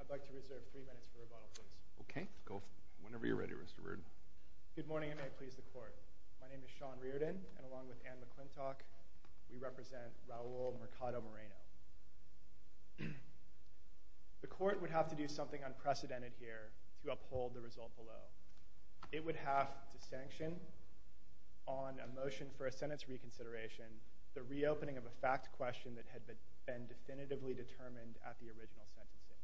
I'd like to reserve three minutes for rebuttal, please. Okay. Whenever you're ready, Mr. Reardon. Good morning, and may it please the Court. My name is Sean Reardon, and along with Anne McClintock, we represent Raul Mercado-Moreno. The Court would have to do something unprecedented here to uphold the result below. It would have to sanction, on a motion for a sentence reconsideration, the reopening of a fact question that had been definitively determined at the original sentencing.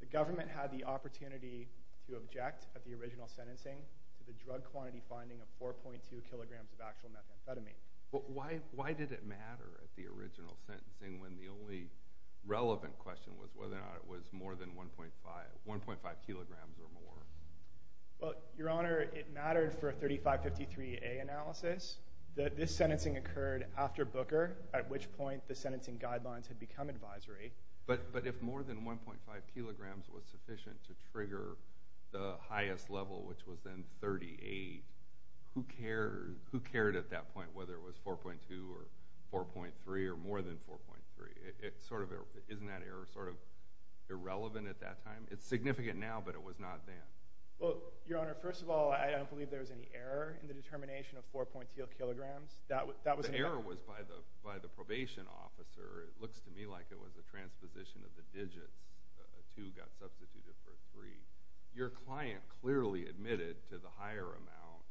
The government had the opportunity to object, at the original sentencing, to the drug quantity finding of 4.2 kilograms of actual methamphetamine. But why did it matter at the original sentencing, when the only relevant question was whether or not it was more than 1.5 kilograms or more? Well, Your Honor, it mattered for a 3553A analysis. This sentencing occurred after Booker, at which point the sentencing guidelines had become advisory. But if more than 1.5 kilograms was sufficient to trigger the highest level, which was then 38, who cared at that point whether it was 4.2 or 4.3 or more than 4.3? Isn't that error sort of irrelevant at that time? It's significant now, but it was not then. Well, Your Honor, first of all, I don't believe there was any error in the determination of 4.2 kilograms. The error was by the probation officer. It looks to me like it was a transposition of the digits. Two got substituted for three. Your client clearly admitted to the higher amount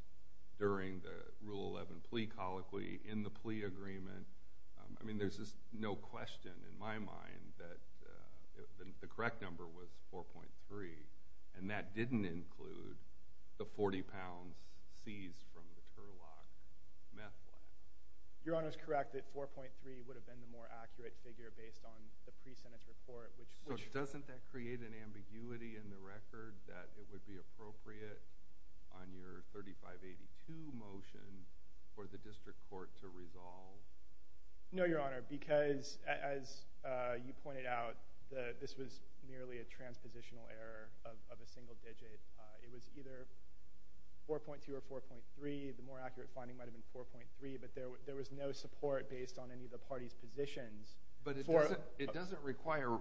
during the Rule 11 plea colloquy, in the plea agreement. I mean, there's just no question in my mind that the correct number was 4.3. And that didn't include the 40 pounds seized from the Turlock meth lab. Your Honor is correct that 4.3 would have been the more accurate figure based on the pre-sentence report. So doesn't that create an ambiguity in the record that it would be appropriate on your 3582 motion for the district court to resolve? No, Your Honor, because as you pointed out, this was merely a transpositional error of a single digit. It was either 4.2 or 4.3. The more accurate finding might have been 4.3, but there was no support based on any of the parties' positions. But it doesn't require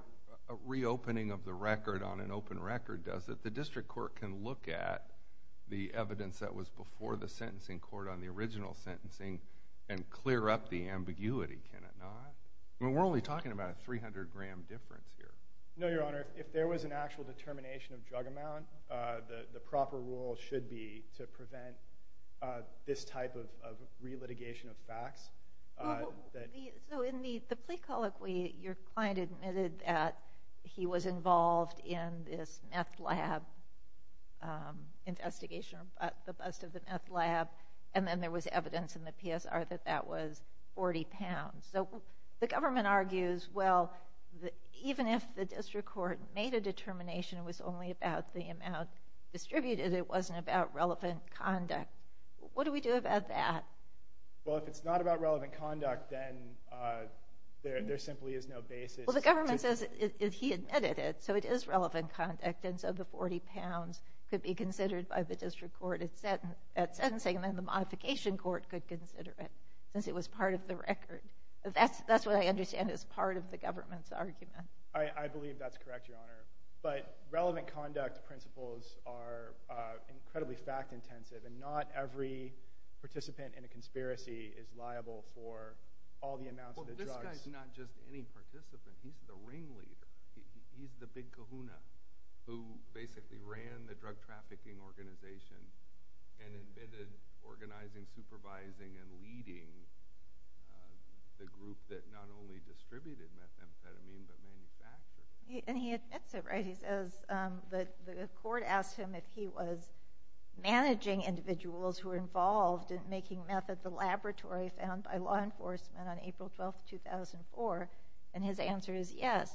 a reopening of the record on an open record, does it? The district court can look at the evidence that was before the sentencing court on the original sentencing and clear up the ambiguity, can it not? I mean, we're only talking about a 300-gram difference here. No, Your Honor. If there was an actual determination of drug amount, the proper rule should be to prevent this type of relitigation of facts. So in the plea colloquy, your client admitted that he was involved in this meth lab investigation or the bust of the meth lab, and then there was evidence in the PSR that that was 40 pounds. So the government argues, well, even if the district court made a determination, it was only about the amount distributed. It wasn't about relevant conduct. What do we do about that? Well, if it's not about relevant conduct, then there simply is no basis. Well, the government says he admitted it, so it is relevant conduct, and so the 40 pounds could be considered by the district court at sentencing, and then the modification court could consider it since it was part of the record. That's what I understand is part of the government's argument. I believe that's correct, Your Honor. But relevant conduct principles are incredibly fact-intensive, and not every participant in a conspiracy is liable for all the amounts of the drugs. Well, this guy's not just any participant. He's the ringleader. He's the big kahuna who basically ran the drug trafficking organization and admitted organizing, supervising, and leading the group that not only distributed methamphetamine but manufactured it. And he admits it, right? He says that the court asked him if he was managing individuals who were involved in making meth at the laboratory found by law enforcement on April 12, 2004, and his answer is yes.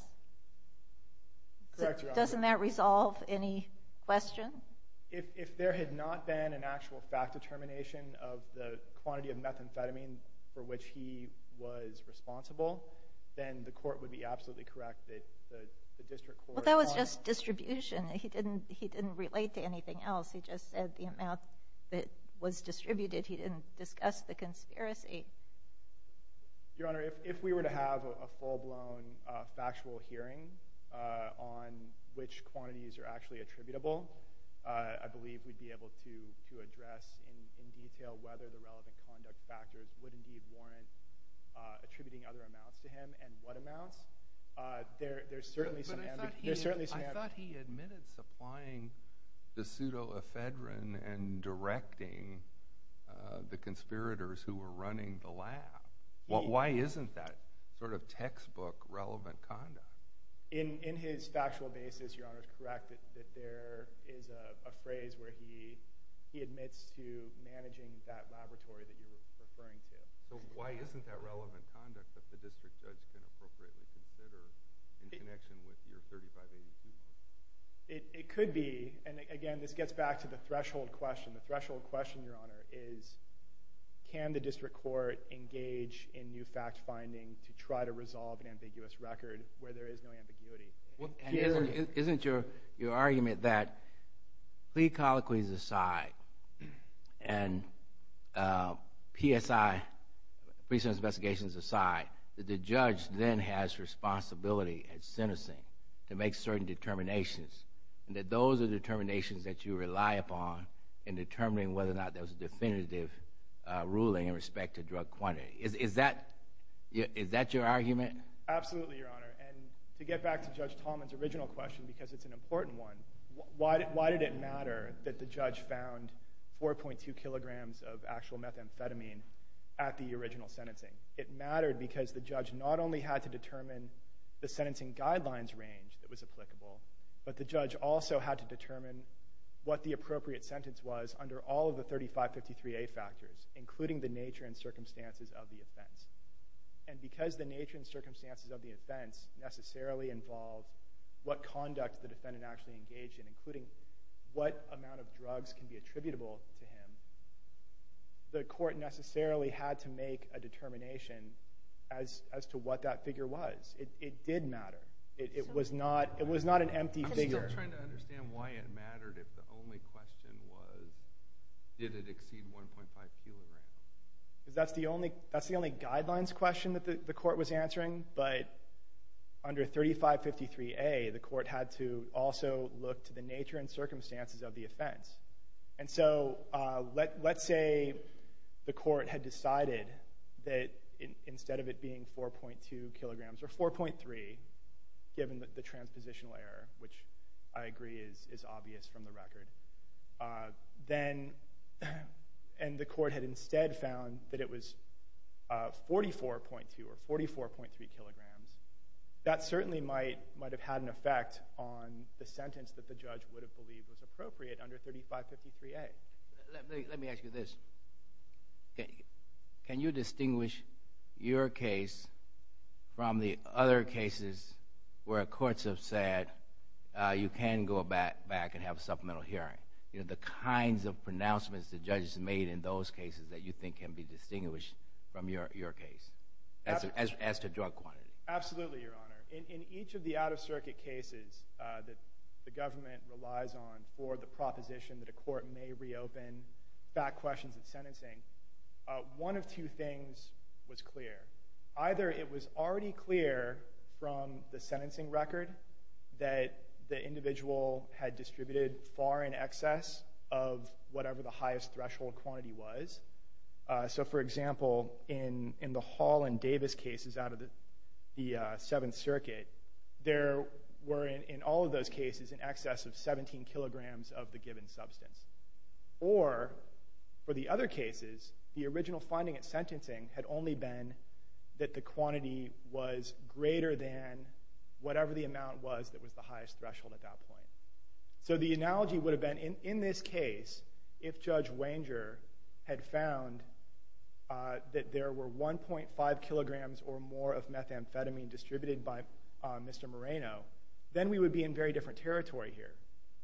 Correct, Your Honor. So doesn't that resolve any question? If there had not been an actual fact determination of the quantity of methamphetamine for which he was responsible, then the court would be absolutely correct that the district court... Well, that was just distribution. He didn't relate to anything else. He just said the amount that was distributed. He didn't discuss the conspiracy. Your Honor, if we were to have a full-blown factual hearing on which quantities are actually attributable, I believe we'd be able to address in detail whether the relevant conduct factors would indeed warrant attributing other amounts to him and what amounts. There's certainly some ambiguity. But I thought he admitted supplying the pseudoephedrine and directing the conspirators who were running the lab. Why isn't that sort of textbook relevant conduct? In his factual basis, Your Honor, it's correct that there is a phrase where he admits to managing that laboratory that you're referring to. So why isn't that relevant conduct that the district judge can appropriately consider in connection with your 3582? It could be. And again, this gets back to the threshold question. The threshold question, Your Honor, is can the district court engage in new fact finding to try to resolve an ambiguous record where there is no ambiguity? Isn't your argument that plea colloquies aside and PSI, pre-sentence investigations aside, that the judge then has responsibility at sentencing to make certain determinations and that those are determinations that you rely upon in determining whether or not there was a definitive ruling in respect to drug quantity? Absolutely, Your Honor. And to get back to Judge Tallman's original question, because it's an important one, why did it matter that the judge found 4.2 kilograms of actual methamphetamine at the original sentencing? It mattered because the judge not only had to determine the sentencing guidelines range that was applicable, but the judge also had to determine what the appropriate sentence was under all of the 3553A factors, including the nature and circumstances of the offense. And because the nature and circumstances of the offense necessarily involved what conduct the defendant actually engaged in, including what amount of drugs can be attributable to him, the court necessarily had to make a determination as to what that figure was. It did matter. It was not an empty figure. I'm still trying to understand why it mattered if the only question was did it exceed 1.5 kilograms? Because that's the only guidelines question that the court was answering, but under 3553A the court had to also look to the nature and circumstances of the offense. And so let's say the court had decided that instead of it being 4.2 kilograms or 4.3, given the transpositional error, which I agree is obvious from the record, and the court had instead found that it was 44.2 or 44.3 kilograms, that certainly might have had an effect on the sentence that the judge would have believed was appropriate under 3553A. Let me ask you this. Can you distinguish your case from the other cases where courts have said you can go back and have a supplemental hearing? The kinds of pronouncements the judges made in those cases that you think can be distinguished from your case as to drug quantity. Absolutely, Your Honor. In each of the out-of-circuit cases that the government relies on for the proposition that a court may reopen back questions of sentencing, one of two things was clear. Either it was already clear from the sentencing record that the individual had distributed far in excess of whatever the highest threshold quantity was. So, for example, in the Hall and Davis cases out of the Seventh Circuit, there were in all of those cases in excess of 17 kilograms of the given substance. Or, for the other cases, the original finding at sentencing had only been that the quantity was greater than whatever the amount was that was the highest threshold at that point. So the analogy would have been, in this case, if Judge Wanger had found that there were 1.5 kilograms or more of methamphetamine distributed by Mr. Moreno, then we would be in very different territory here.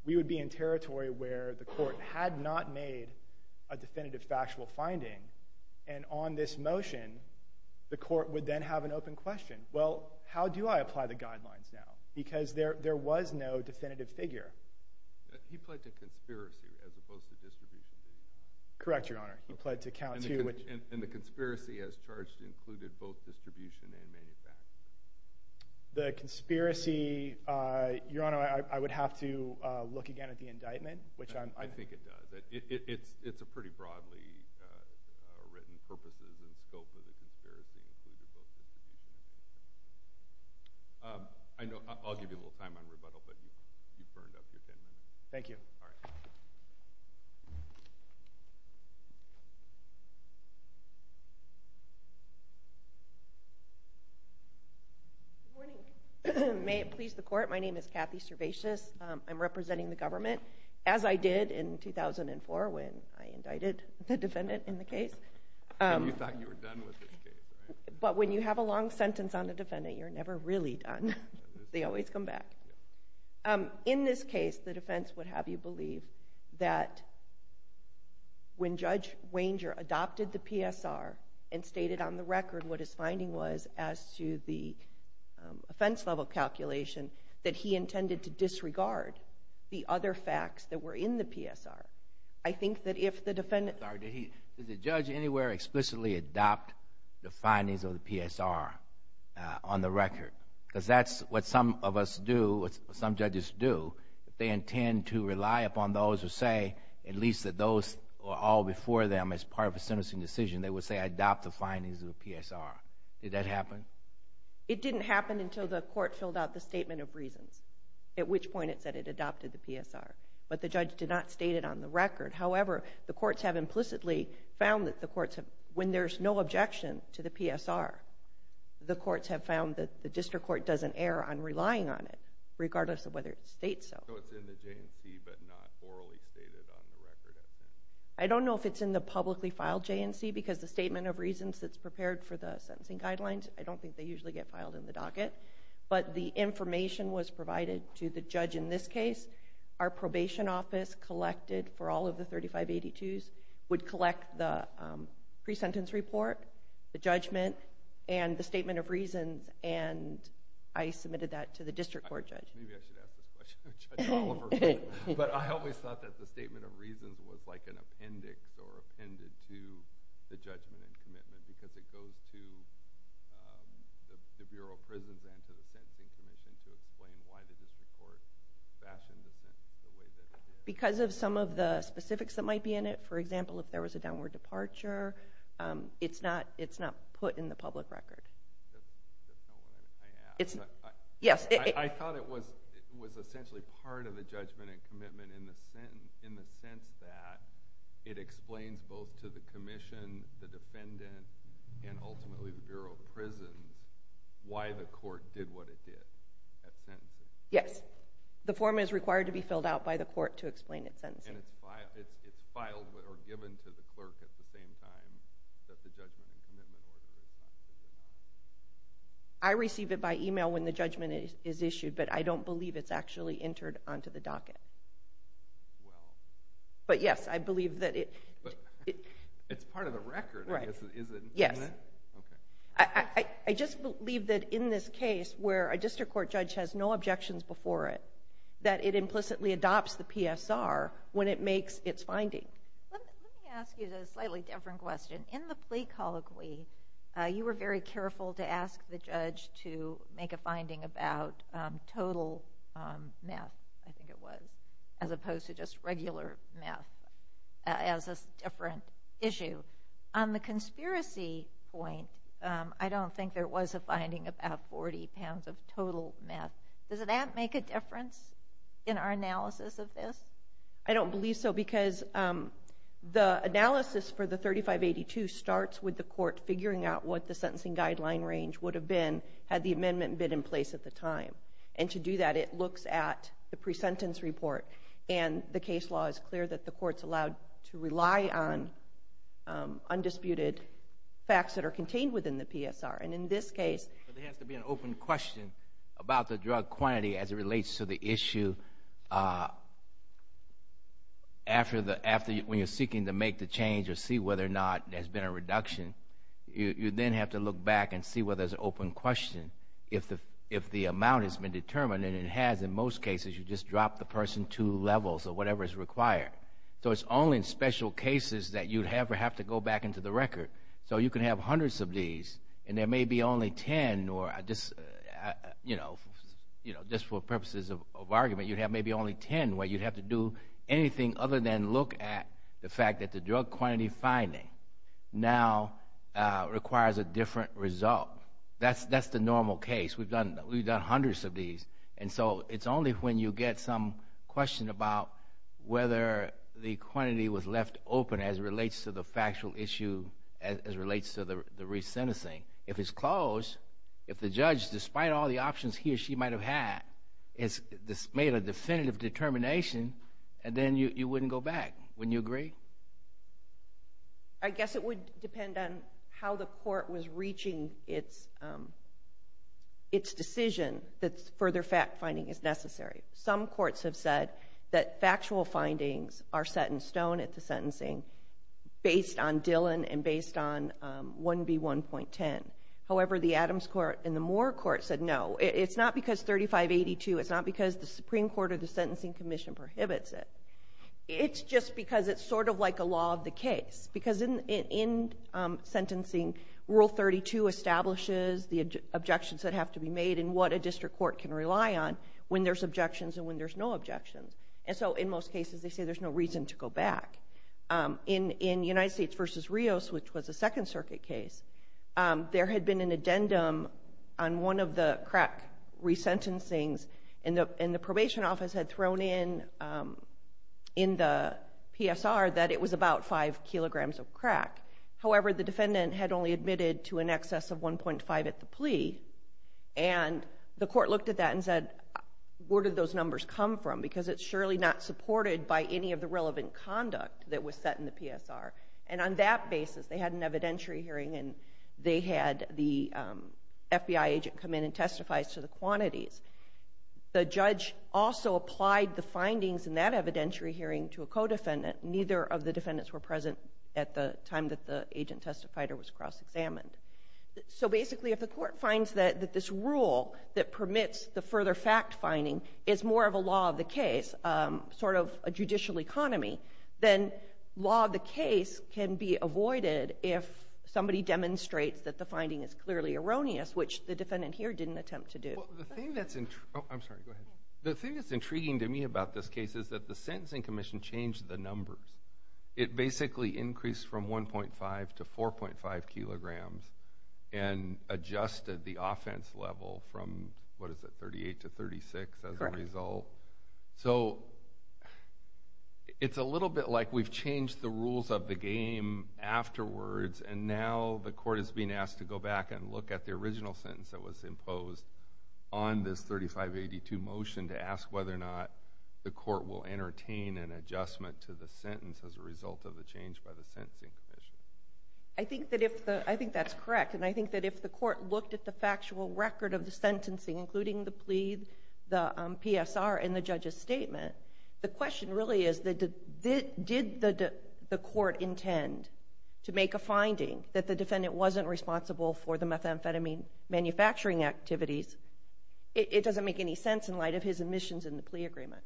We would be in territory where the court had not made a definitive factual finding. And on this motion, the court would then have an open question. Well, how do I apply the guidelines now? Because there was no definitive figure. He pled to conspiracy as opposed to distribution. Correct, Your Honor. He pled to count two. And the conspiracy as charged included both distribution and manufacturing. The conspiracy, Your Honor, I would have to look again at the indictment. I think it does. It's a pretty broadly written purpose and scope of the conspiracy included both distribution and manufacturing. I'll give you a little time on rebuttal, but you've burned up your 10 minutes. Thank you. Good morning. May it please the Court, my name is Kathy Servatius. I'm representing the government, as I did in 2004 when I indicted the defendant in the case. And you thought you were done with this case, right? But when you have a long sentence on the defendant, you're never really done. They always come back. In this case, the defense would have you believe that when Judge Wanger adopted the PSR and stated on the record what his finding was as to the offense-level calculation that he intended to disregard the other facts that were in the PSR. I think that if the defendant— Did the judge anywhere explicitly adopt the findings of the PSR on the record? Because that's what some of us do, what some judges do. If they intend to rely upon those who say at least that those were all before them as part of a sentencing decision, they would say, I adopt the findings of the PSR. Did that happen? It didn't happen until the court filled out the statement of reasons, at which point it said it adopted the PSR. But the judge did not state it on the record. However, the courts have implicitly found that the courts have— when there's no objection to the PSR, the courts have found that the district court doesn't err on relying on it, regardless of whether it states so. So it's in the J&C but not orally stated on the record? I don't know if it's in the publicly filed J&C because the statement of reasons that's prepared for the sentencing guidelines, I don't think they usually get filed in the docket. But the information was provided to the judge in this case. Our probation office collected for all of the 3582s, would collect the pre-sentence report, the judgment, and the statement of reasons, and I submitted that to the district court judge. Maybe I should ask this question to Judge Oliver. But I always thought that the statement of reasons was like an appendix or appended to the judgment and commitment because it goes to the Bureau of Prisons and to the Sentencing Commission to explain why the district court fashioned the sentence the way that it did. Because of some of the specifics that might be in it. For example, if there was a downward departure, it's not put in the public record. That's not what I asked. I thought it was essentially part of the judgment and commitment in the sense that it explains both to the commission, the defendant, and ultimately the Bureau of Prisons why the court did what it did at sentencing. Yes. The form is required to be filled out by the court to explain its sentencing. And it's filed or given to the clerk at the same time that the judgment and commitment order is not? I receive it by email when the judgment is issued, but I don't believe it's actually entered onto the docket. Well. But, yes, I believe that it. But it's part of the record. Right. Is it? Yes. Okay. I just believe that in this case where a district court judge has no objections before it, that it implicitly adopts the PSR when it makes its finding. Let me ask you a slightly different question. In the plea colloquy, you were very careful to ask the judge to make a finding about total meth, I think it was, as opposed to just regular meth as a different issue. On the conspiracy point, I don't think there was a finding about 40 pounds of total meth. Does that make a difference in our analysis of this? I don't believe so because the analysis for the 3582 starts with the court figuring out what the sentencing guideline range would have been had the amendment been in place at the time. And to do that, it looks at the pre-sentence report, and the case law is clear that the court's allowed to rely on undisputed facts that are contained within the PSR. There has to be an open question about the drug quantity as it relates to the issue. When you're seeking to make the change or see whether or not there's been a reduction, you then have to look back and see whether there's an open question. If the amount has been determined, and it has in most cases, you just drop the person two levels or whatever is required. So it's only in special cases that you'd have to go back into the record. So you can have hundreds of these, and there may be only 10, or just for purposes of argument, you'd have maybe only 10, where you'd have to do anything other than look at the fact that the drug quantity finding now requires a different result. That's the normal case. We've done hundreds of these, and so it's only when you get some question about whether the quantity was left open as it relates to the factual issue, as it relates to the resentencing. If it's closed, if the judge, despite all the options he or she might have had, has made a definitive determination, then you wouldn't go back. Wouldn't you agree? I guess it would depend on how the court was reaching its decision that further fact-finding is necessary. Some courts have said that factual findings are set in stone at the sentencing based on Dillon and based on 1B1.10. However, the Adams Court and the Moore Court said, no, it's not because 3582, it's not because the Supreme Court or the Sentencing Commission prohibits it. It's just because it's sort of like a law of the case, because in sentencing, Rule 32 establishes the objections that have to be made and what a district court can rely on when there's objections and when there's no objections. And so in most cases, they say there's no reason to go back. In United States v. Rios, which was a Second Circuit case, there had been an addendum on one of the crack resentencings, and the probation office had thrown in, in the PSR, that it was about 5 kilograms of crack. However, the defendant had only admitted to an excess of 1.5 at the plea, and the court looked at that and said, where did those numbers come from? Because it's surely not supported by any of the relevant conduct that was set in the PSR. And on that basis, they had an evidentiary hearing and they had the FBI agent come in and testify to the quantities. The judge also applied the findings in that evidentiary hearing to a co-defendant. Neither of the defendants were present at the time that the agent testified or was cross-examined. So basically, if the court finds that this rule that permits the further fact finding is more of a law of the case, sort of a judicial economy, then law of the case can be avoided if somebody demonstrates that the finding is clearly erroneous, which the defendant here didn't attempt to do. The thing that's intriguing to me about this case is that the sentencing commission changed the numbers. It basically increased from 1.5 to 4.5 kilograms and adjusted the offense level from, what is it, 38 to 36 as a result. So it's a little bit like we've changed the rules of the game afterwards and now the court is being asked to go back and look at the original sentence that was imposed on this 3582 motion to ask whether or not the court will entertain an adjustment to the sentence as a result of the change by the sentencing commission. I think that's correct. And I think that if the court looked at the factual record of the sentencing, including the plea, the PSR, and the judge's statement, the question really is did the court intend to make a finding that the defendant wasn't responsible for the methamphetamine manufacturing activities? It doesn't make any sense in light of his admissions in the plea agreement.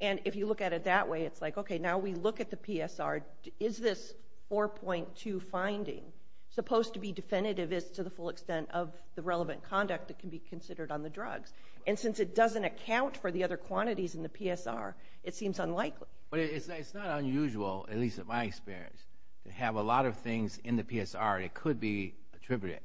And if you look at it that way, it's like, okay, now we look at the PSR. Is this 4.2 finding supposed to be definitive as to the full extent of the relevant conduct that can be considered on the drugs? And since it doesn't account for the other quantities in the PSR, it seems unlikely. It's not unusual, at least in my experience, to have a lot of things in the PSR that could be attributed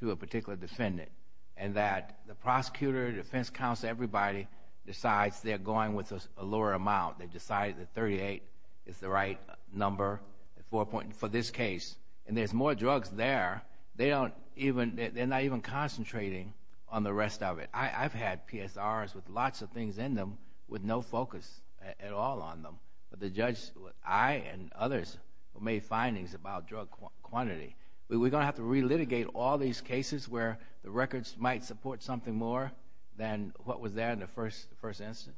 to a particular defendant and that the prosecutor, defense counsel, everybody decides they're going with a lower amount. They've decided that 38 is the right number for this case. And there's more drugs there. They're not even concentrating on the rest of it. I've had PSRs with lots of things in them with no focus at all on them. But the judge, I and others, have made findings about drug quantity. We're going to have to relitigate all these cases where the records might support something more than what was there in the first instance.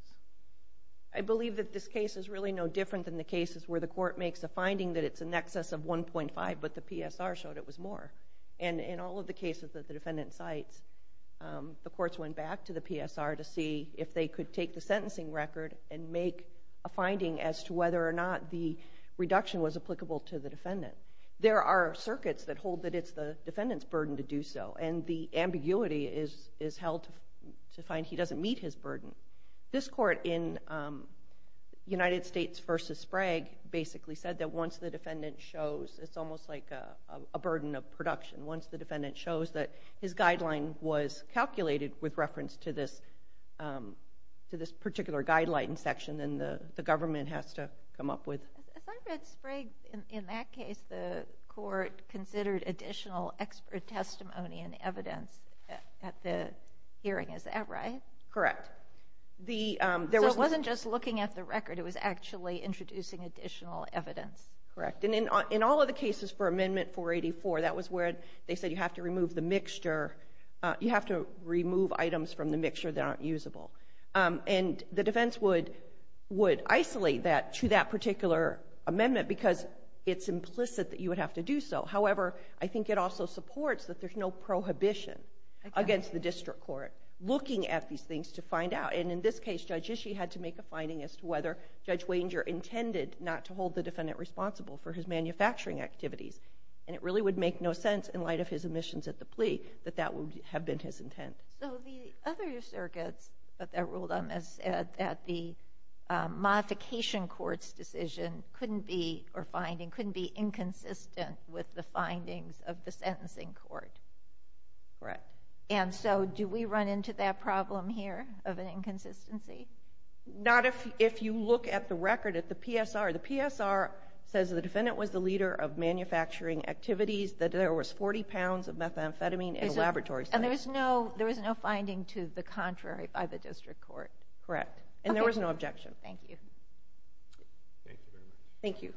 I believe that this case is really no different than the cases where the court makes a finding that it's in excess of 1.5 but the PSR showed it was more. And in all of the cases that the defendant cites, the courts went back to the PSR to see if they could take the sentencing record and make a finding as to whether or not the reduction was applicable to the defendant. There are circuits that hold that it's the defendant's burden to do so, and the ambiguity is held to find he doesn't meet his burden. This court in United States v. Sprague basically said that once the defendant shows, it's almost like a burden of production, once the defendant shows that his guideline was calculated with reference to this particular guideline section, then the government has to come up with. As I read Sprague, in that case, the court considered additional expert testimony and evidence at the hearing. Is that right? Correct. So it wasn't just looking at the record. It was actually introducing additional evidence. Correct. And in all of the cases for Amendment 484, that was where they said you have to remove the mixture, you have to remove items from the mixture that aren't usable. And the defense would isolate that to that particular amendment because it's implicit that you would have to do so. However, I think it also supports that there's no prohibition against the district court looking at these things to find out. And in this case, Judge Ishii had to make a finding as to whether Judge Wanger intended not to hold the defendant responsible for his manufacturing activities. And it really would make no sense in light of his omissions at the plea that that would have been his intent. So the other circuits that ruled on this said that the modification court's decision couldn't be, or finding, couldn't be inconsistent with the findings of the sentencing court. Correct. And so do we run into that problem here of an inconsistency? Not if you look at the record at the PSR. The PSR says the defendant was the leader of manufacturing activities, that there was 40 pounds of methamphetamine in a laboratory site. And there was no finding to the contrary by the district court. Correct. And there was no objection. Thank you. Thank you very much. Thank you.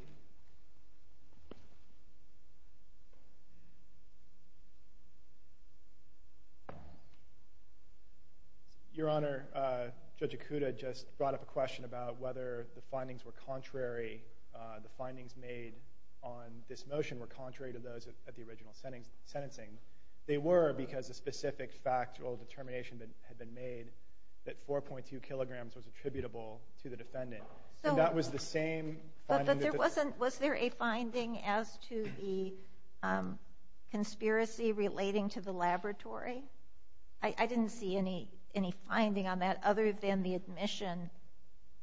Your Honor, Judge Ikuda just brought up a question about whether the findings were contrary. The findings made on this motion were contrary to those at the original sentencing. They were because a specific factual determination had been made that 4.2 kilograms was attributable to the defendant. And that was the same finding that the – But there wasn't – was there a finding as to the conspiracy relating to the laboratory? I didn't see any finding on that other than the admission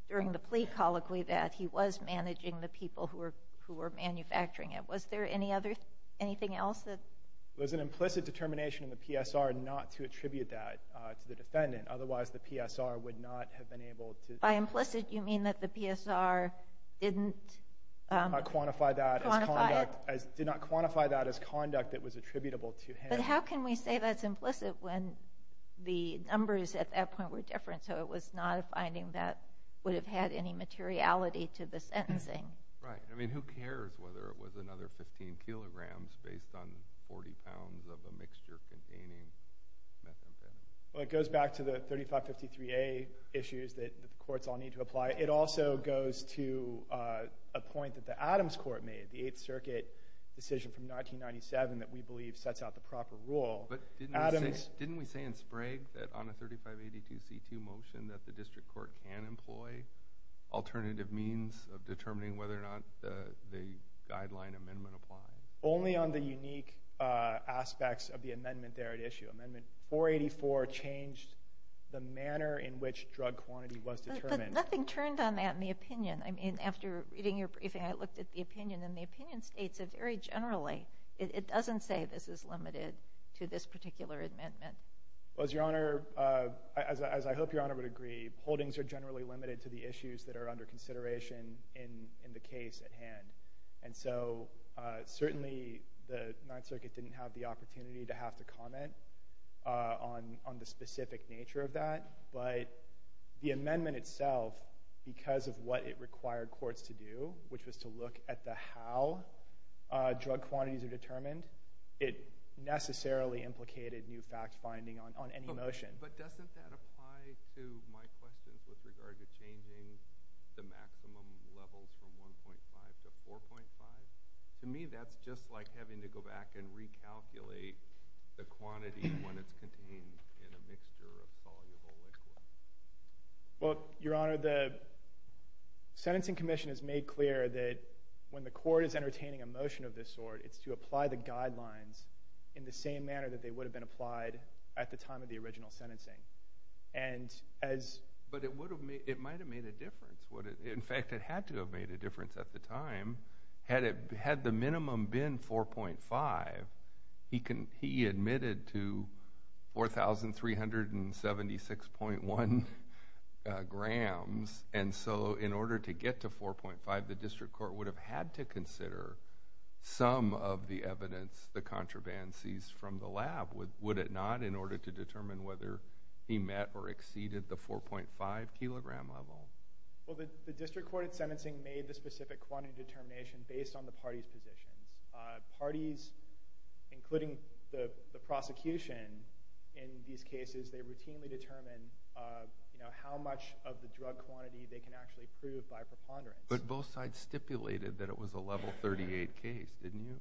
during the plea colloquy that he was managing the people who were manufacturing it. Was there anything else that – It was an implicit determination in the PSR not to attribute that to the defendant. Otherwise, the PSR would not have been able to – By implicit, you mean that the PSR didn't – Did not quantify that as conduct that was attributable to him. But how can we say that's implicit when the numbers at that point were different? So it was not a finding that would have had any materiality to the sentencing. Right. I mean, who cares whether it was another 15 kilograms based on 40 pounds of a mixture containing methamphetamine? Well, it goes back to the 3553A issues that the courts all need to apply. It also goes to a point that the Adams Court made, the Eighth Circuit decision from 1997 that we believe sets out the proper rule. But didn't we say in Sprague that on a 3582C2 motion that the district court can employ alternative means of determining whether or not the guideline amendment applies? Only on the unique aspects of the amendment there at issue. Amendment 484 changed the manner in which drug quantity was determined. But nothing turned on that in the opinion. I mean, after reading your briefing, I looked at the opinion, and the opinion states that very generally it doesn't say this is limited to this particular amendment. Well, Your Honor, as I hope Your Honor would agree, holdings are generally limited to the issues that are under consideration in the case at hand. And so certainly the Ninth Circuit didn't have the opportunity to have to comment on the specific nature of that. But the amendment itself, because of what it required courts to do, which was to look at the how drug quantities are determined, it necessarily implicated new fact finding on any motion. But doesn't that apply to my questions with regard to changing the maximum levels from 1.5 to 4.5? To me, that's just like having to go back and recalculate the quantity when it's contained in a mixture of soluble liquids. Well, Your Honor, the sentencing commission has made clear that when the court is entertaining a motion of this sort, it's to apply the guidelines in the same manner that they would have been applied at the time of the original sentencing. But it might have made a difference. In fact, it had to have made a difference at the time. Had the minimum been 4.5, he admitted to 4,376.1 grams. And so in order to get to 4.5, the district court would have had to consider some of the evidence the contraband sees from the lab, would it not, in order to determine whether he met or exceeded the 4.5-kilogram level? Well, the district court in sentencing made the specific quantity determination based on the parties' positions. Parties, including the prosecution, in these cases, they routinely determine how much of the drug quantity they can actually prove by preponderance. But both sides stipulated that it was a Level 38 case, didn't you?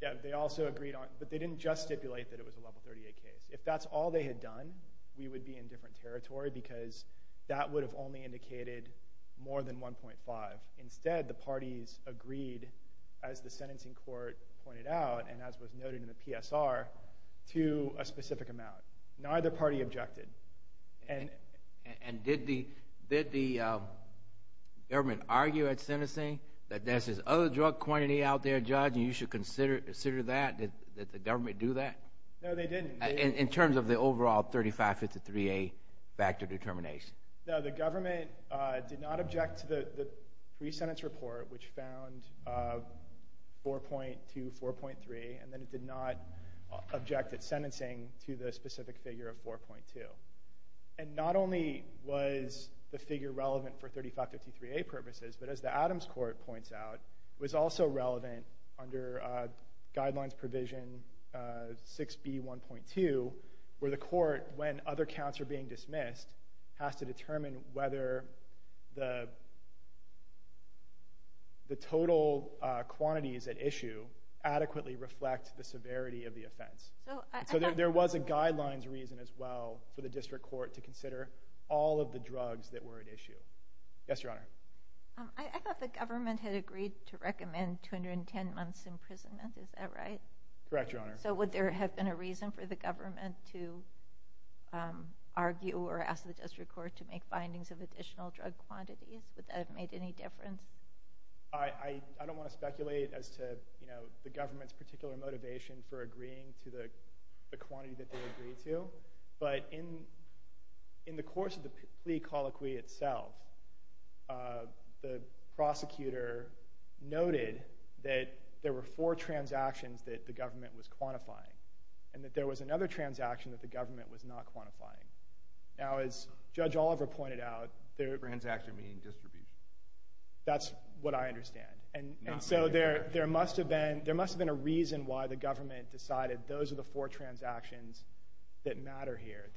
Yeah, they also agreed on it. But they didn't just stipulate that it was a Level 38 case. If that's all they had done, we would be in different territory because that would have only indicated more than 1.5. Instead, the parties agreed, as the sentencing court pointed out and as was noted in the PSR, to a specific amount. Neither party objected. And did the government argue at sentencing that there's this other drug quantity out there, Judge, and you should consider that? Did the government do that? No, they didn't. In terms of the overall 3553A factor determination? No, the government did not object to the pre-sentence report, which found 4.2, 4.3, and then it did not object at sentencing to the specific figure of 4.2. And not only was the figure relevant for 3553A purposes, but as the Adams Court points out, it was also relevant under Guidelines Provision 6B.1.2, where the court, when other counts are being dismissed, has to determine whether the offense. So there was a guidelines reason as well for the district court to consider all of the drugs that were at issue. Yes, Your Honor. I thought the government had agreed to recommend 210 months' imprisonment. Is that right? Correct, Your Honor. So would there have been a reason for the government to argue or ask the district court to make findings of additional drug quantities? Would that have made any difference? I don't want to speculate as to the government's particular motivation for agreeing to the quantity that they agreed to, but in the course of the plea colloquy itself, the prosecutor noted that there were four transactions that the government was quantifying, and that there was another transaction that the government was not quantifying. Now, as Judge Oliver pointed out, there were... Transaction meaning distribution. That's what I understand. And so there must have been a reason why the government decided those are the four transactions that matter here.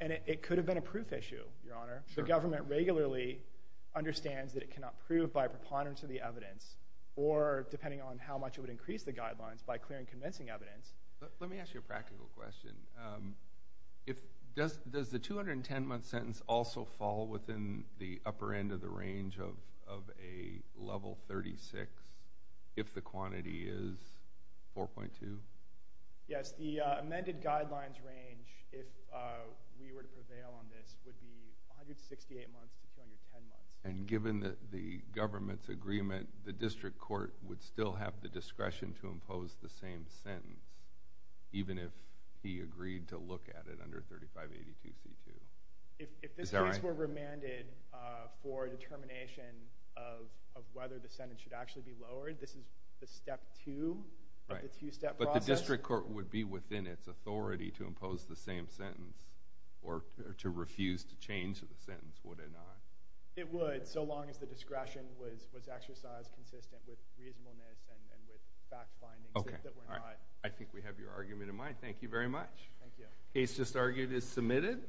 And it could have been a proof issue, Your Honor. The government regularly understands that it cannot prove by a preponderance of the evidence, or depending on how much it would increase the guidelines by clearing convincing evidence. Let me ask you a practical question. Does the 210-month sentence also fall within the upper end of the range of a level 36 if the quantity is 4.2? Yes. The amended guidelines range, if we were to prevail on this, would be 168 months to 210 months. And given the government's agreement, the district court would still have the agreed to look at it under 3582C2. Is that right? If this case were remanded for a determination of whether the sentence should actually be lowered, this is the step two of the two-step process? Right. But the district court would be within its authority to impose the same sentence, or to refuse to change the sentence, would it not? It would, so long as the discretion was exercised consistent with reasonableness and with fact findings that were not... Okay. All right. I think we have your argument in mind. Thank you very much. Thank you. Case just argued is submitted.